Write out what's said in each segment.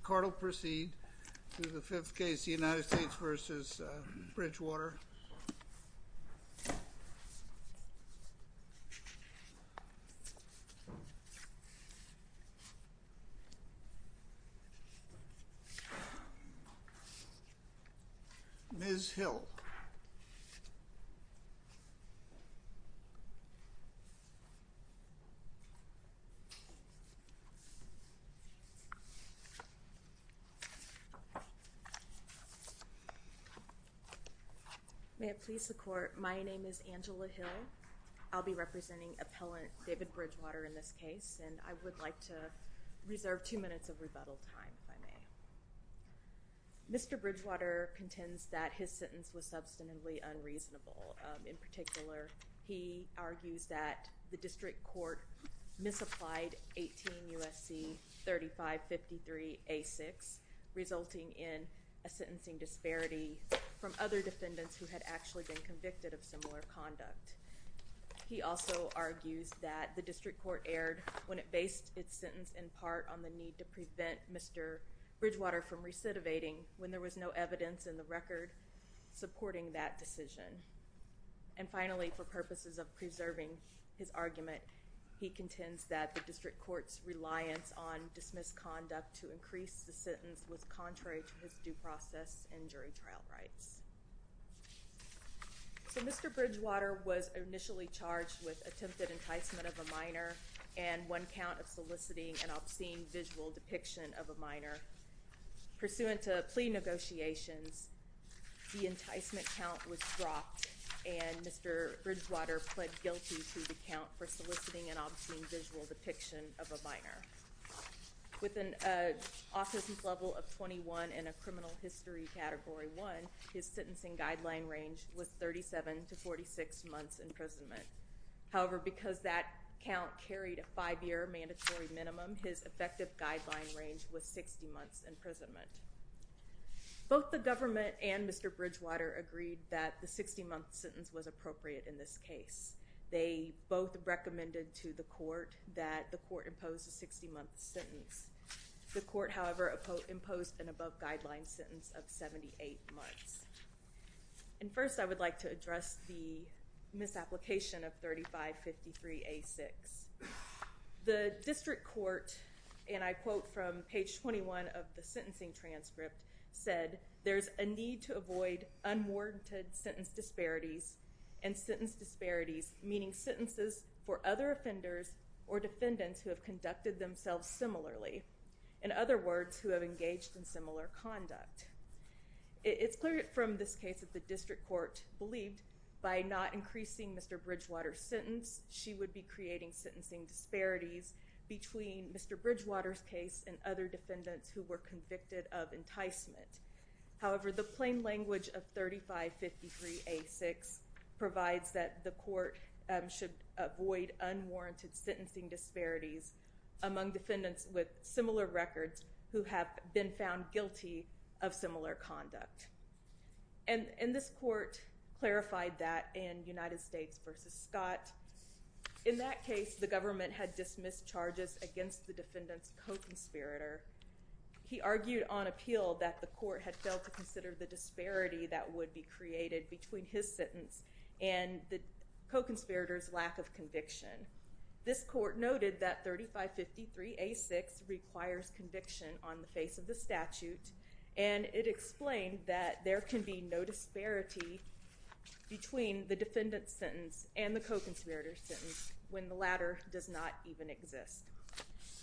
The court will proceed to the fifth case, the United States v. Bridgewater. Ms. Hill May it please the court, my name is Angela Hill. I'll be representing appellant David Bridgewater in this case, and I would like to reserve two minutes of rebuttal time, if I may. Mr. Bridgewater contends that his sentence was substantively unreasonable. In particular, he argues that the district court misapplied 18 U.S.C. 3553 A.6, resulting in a sentencing disparity from other defendants who had actually been convicted of similar conduct. He also argues that the district court erred when it based its sentence in part on the need to prevent Mr. Bridgewater from recidivating when there was no evidence in the record supporting that decision. And finally, for purposes of preserving his argument, he contends that the district court's reliance on dismissed conduct to increase the sentence was contrary to his due process and jury trial rights. So Mr. Bridgewater was initially charged with attempted enticement of a minor and one count of soliciting an obscene visual depiction of a minor. Pursuant to plea negotiations, the enticement count was dropped and Mr. Bridgewater pled guilty to the count for soliciting an obscene visual depiction of a minor. With an autism level of 21 and a criminal history category 1, his sentencing guideline range was 37 to 46 months imprisonment. However, because that count carried a five-year mandatory minimum, his effective guideline range was 60 months imprisonment. Both the government and Mr. Bridgewater agreed that the 60-month sentence was appropriate in this case. They both recommended to the court that the court impose a 60-month sentence. The court, however, imposed an above-guideline sentence of 78 months. And first, I would like to address the misapplication of 3553A6. The district court, and I quote from page 21 of the sentencing transcript, said, there's a need to avoid unwarranted sentence disparities and sentence disparities, meaning sentences for other offenders or defendants who have conducted themselves similarly. In other words, who have engaged in similar conduct. It's clear from this case that the district court believed by not increasing Mr. Bridgewater's sentence, she would be creating sentencing disparities between Mr. Bridgewater's case and other defendants who were convicted of enticement. However, the plain language of 3553A6 provides that the court should avoid unwarranted sentencing disparities among defendants with similar records who have been found guilty of similar conduct. And this court clarified that in United States v. Scott. In that case, the government had dismissed charges against the defendant's co-conspirator. He argued on appeal that the court had failed to consider the disparity that would be created between his sentence and the co-conspirator's lack of conviction. This court noted that 3553A6 requires conviction on the face of the statute, and it explained that there can be no disparity between the defendant's sentence and the co-conspirator's sentence when the latter does not even exist.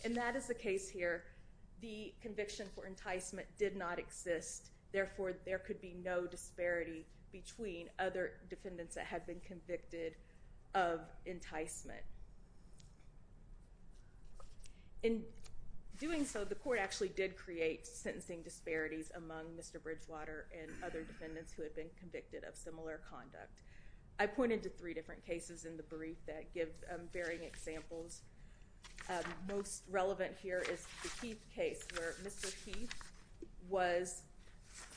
And that is the case here. The conviction for enticement did not exist. Therefore, there could be no disparity between other defendants that have been convicted of enticement. In doing so, the court actually did create sentencing disparities among Mr. Bridgewater and other defendants who had been convicted of similar conduct. I pointed to three different cases in the brief that give varying examples. Most relevant here is the Heath case where Mr. Heath was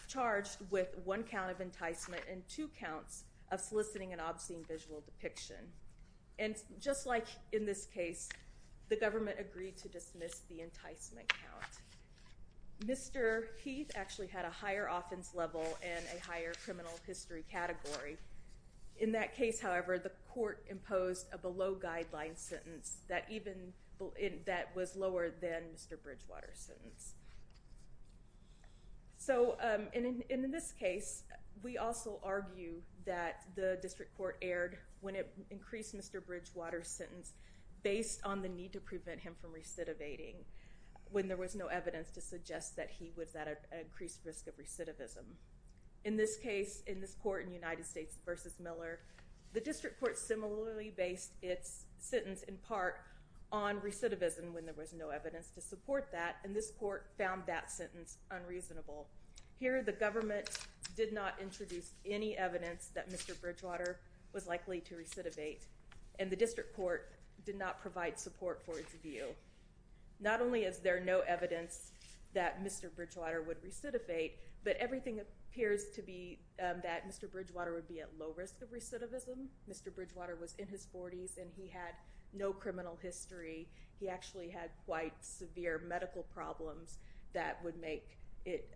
charged with one count of enticement and two counts of soliciting an obscene visual depiction. And just like in this case, the government agreed to dismiss the enticement count. Mr. Heath actually had a higher offense level and a higher criminal history category. In that case, however, the court imposed a below-guideline sentence that was lower than Mr. Bridgewater's sentence. So in this case, we also argue that the district court erred when it increased Mr. Bridgewater's sentence based on the need to prevent him from recidivating when there was no evidence to suggest that he was at an increased risk of recidivism. In this case, in this court in United States v. Miller, the district court similarly based its sentence in part on recidivism when there was no evidence to support that. And this court found that sentence unreasonable. Here, the government did not introduce any evidence that Mr. Bridgewater was likely to recidivate. And the district court did not provide support for its view. Not only is there no evidence that Mr. Bridgewater would recidivate, but everything appears to be that Mr. Bridgewater would be at low risk of recidivism. Mr. Bridgewater was in his 40s and he had no criminal history. He actually had quite severe medical problems that would make it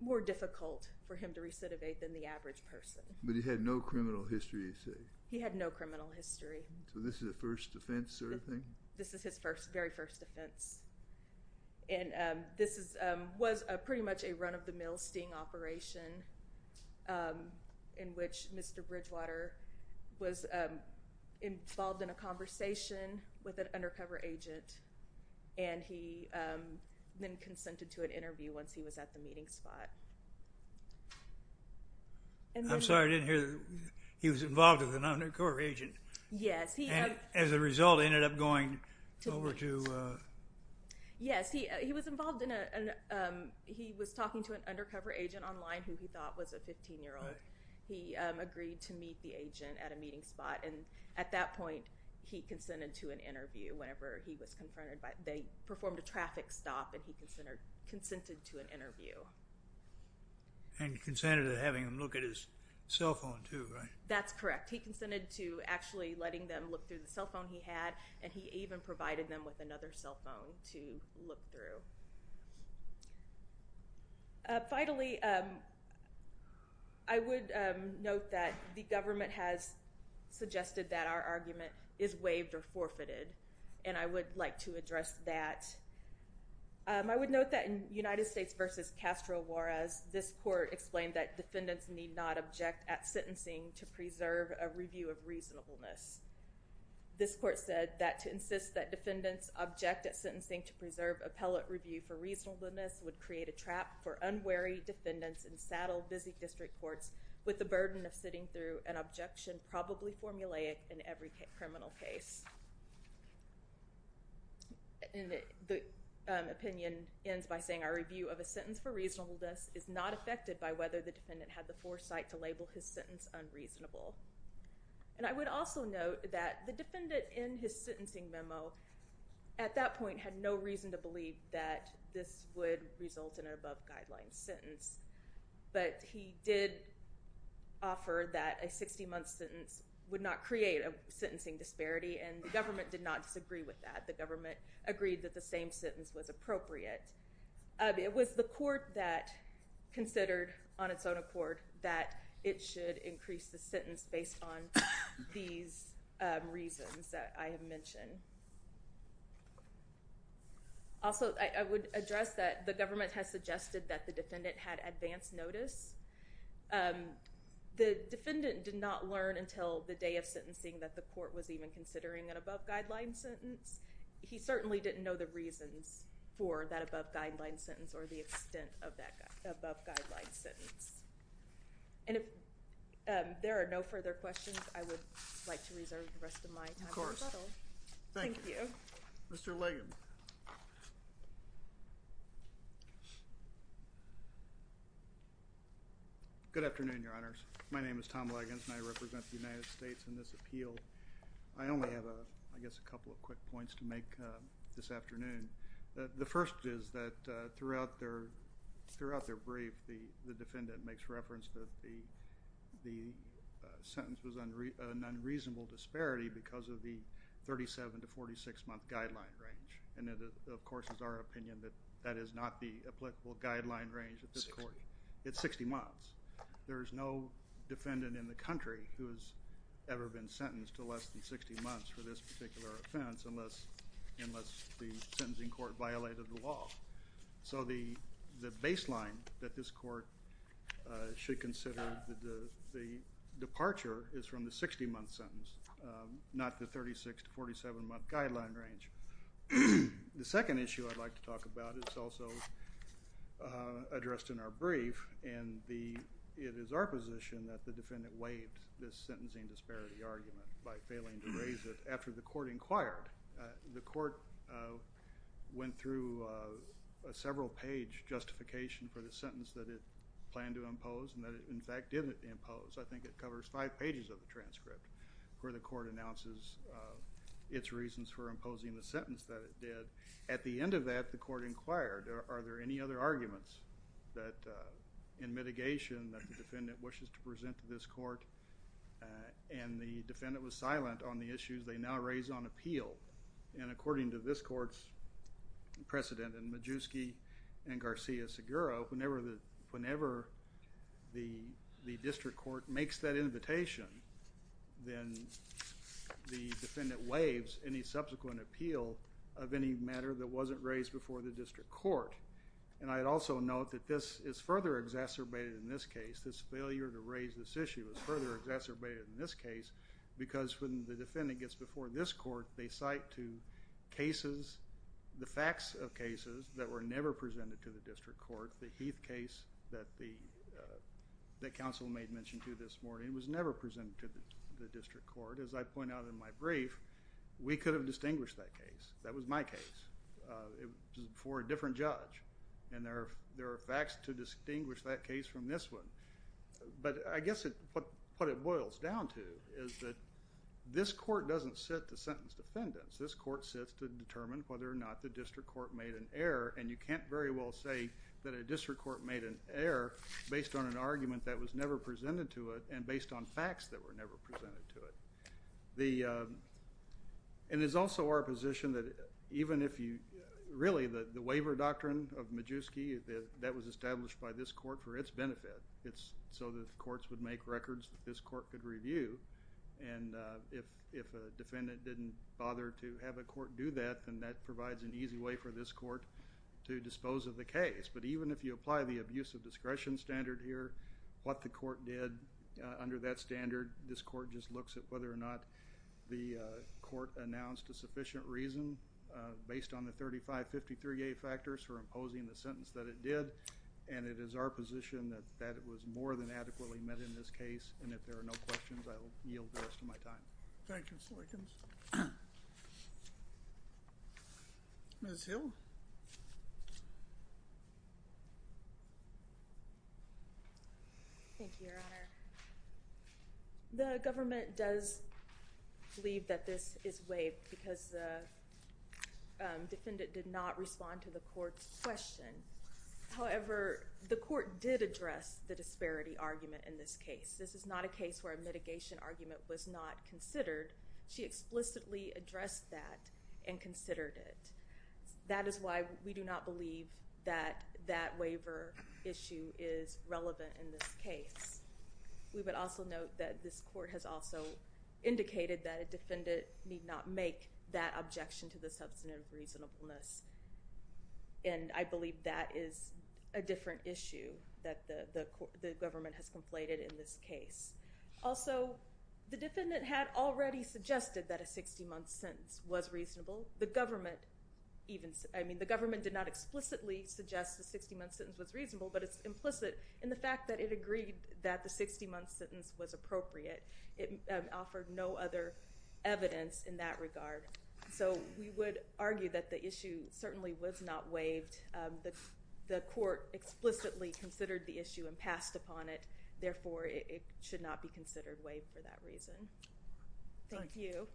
more difficult for him to recidivate than the average person. But he had no criminal history, you say? He had no criminal history. So this is a first offense sort of thing? This is his very first offense. And this was pretty much a run-of-the-mill sting operation in which Mr. Bridgewater was involved in a conversation with an undercover agent. And he then consented to an interview once he was at the meeting spot. I'm sorry, I didn't hear that he was involved with an undercover agent. Yes. And as a result, he ended up going over to... Yes, he was involved in a... He was talking to an undercover agent online who he thought was a 15-year-old. He agreed to meet the agent at a meeting spot. And at that point, he consented to an interview whenever he was confronted by... They performed a traffic stop and he consented to an interview. And consented to having him look at his cell phone too, right? That's correct. He consented to actually letting them look through the cell phone he had. And he even provided them with another cell phone to look through. Finally, I would note that the government has suggested that our argument is waived or forfeited. And I would like to address that. I would note that in United States v. Castro Juarez, this court explained that defendants need not object at sentencing to preserve a review of reasonableness. This court said that to insist that defendants object at sentencing to preserve appellate review for reasonableness would create a trap for unwary defendants in saddle-busy district courts with the burden of sitting through an objection probably formulaic in every criminal case. And the opinion ends by saying our review of a sentence for reasonableness is not affected by whether the defendant had the foresight to label his sentence unreasonable. And I would also note that the defendant in his sentencing memo at that point had no reason to believe that this would result in an above-guidelines sentence. But he did offer that a 60-month sentence would not create a sentencing disparity and the government did not disagree with that. The government agreed that the same sentence was appropriate. It was the court that considered on its own accord that it should increase the sentence based on these reasons that I have mentioned. Also, I would address that the government has suggested that the defendant had advance notice. The defendant did not learn until the day of sentencing that the court was even considering an above-guidelines sentence. He certainly didn't know the reasons for that above-guidelines sentence or the extent of that above-guidelines sentence. And if there are no further questions, I would like to reserve the rest of my time. Of course. Thank you. Mr. Ligon. Good afternoon, Your Honors. My name is Tom Ligon and I represent the United States in this appeal. I only have, I guess, a couple of quick points to make this afternoon. The first is that throughout their brief, the defendant makes reference that the sentence was an unreasonable disparity because of the 37 to 46-month guideline range. And it, of course, is our opinion that that is not the applicable guideline range at this court. It's 60 months. There is no defendant in the country who has ever been sentenced to less than 60 months for this particular offense unless the sentencing court violated the law. So the baseline that this court should consider the departure is from the 60-month sentence, not the 36 to 47-month guideline range. The second issue I'd like to talk about is also addressed in our brief, and it is our position that the defendant waived this sentencing disparity argument by failing to raise it after the court inquired. The court went through a several-page justification for the sentence that it planned to impose and that it, in fact, didn't impose. I think it covers five pages of the transcript where the court announces its reasons for imposing the sentence that it did. At the end of that, the court inquired, are there any other arguments in mitigation that the defendant wishes to present to this court? And the defendant was silent on the issues they now raise on appeal. And according to this court's precedent in Majewski and Garcia-Seguro, whenever the district court makes that invitation, then the defendant waives any subsequent appeal of any matter that wasn't raised before the district court. And I'd also note that this is further exacerbated in this case. This failure to raise this issue is further exacerbated in this case because when the defendant gets before this court, they cite to cases, the facts of cases that were never presented to the district court. The Heath case that the counsel made mention to this morning was never presented to the district court. As I point out in my brief, we could have distinguished that case. That was my case. It was before a different judge, and there are facts to distinguish that case from this one. But I guess what it boils down to is that this court doesn't sit to sentence defendants. This court sits to determine whether or not the district court made an error, and you can't very well say that a district court made an error based on an argument that was never presented to it and based on facts that were never presented to it. And it's also our position that even if you really, the waiver doctrine of Majewski, that was established by this court for its benefit. It's so the courts would make records that this court could review, and if a defendant didn't bother to have a court do that, then that provides an easy way for this court to dispose of the case. But even if you apply the abuse of discretion standard here, what the court did under that standard, this court just looks at whether or not the court announced a sufficient reason based on the 3553A factors for imposing the sentence that it did, and it is our position that it was more than adequately met in this case, and if there are no questions, I will yield the rest of my time. Thank you, Mr. Likens. Ms. Hill. Thank you, Your Honor. The government does believe that this is waived because the defendant did not respond to the court's question. However, the court did address the disparity argument in this case. This is not a case where a mitigation argument was not considered. She explicitly addressed that and considered it. That is why we do not believe that that waiver issue is relevant in this case. We would also note that this court has also indicated that a defendant need not make that objection to the substantive reasonableness, and I believe that is a different issue that the government has conflated in this case. Also, the defendant had already suggested that a 60-month sentence was reasonable. The government did not explicitly suggest the 60-month sentence was reasonable, but it's implicit in the fact that it agreed that the 60-month sentence was appropriate. It offered no other evidence in that regard. So we would argue that the issue certainly was not waived. The court explicitly considered the issue and passed upon it. Therefore, it should not be considered waived for that reason. Thank you.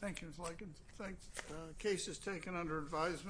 Thank you, Ms. Likens. The case is taken under advisement.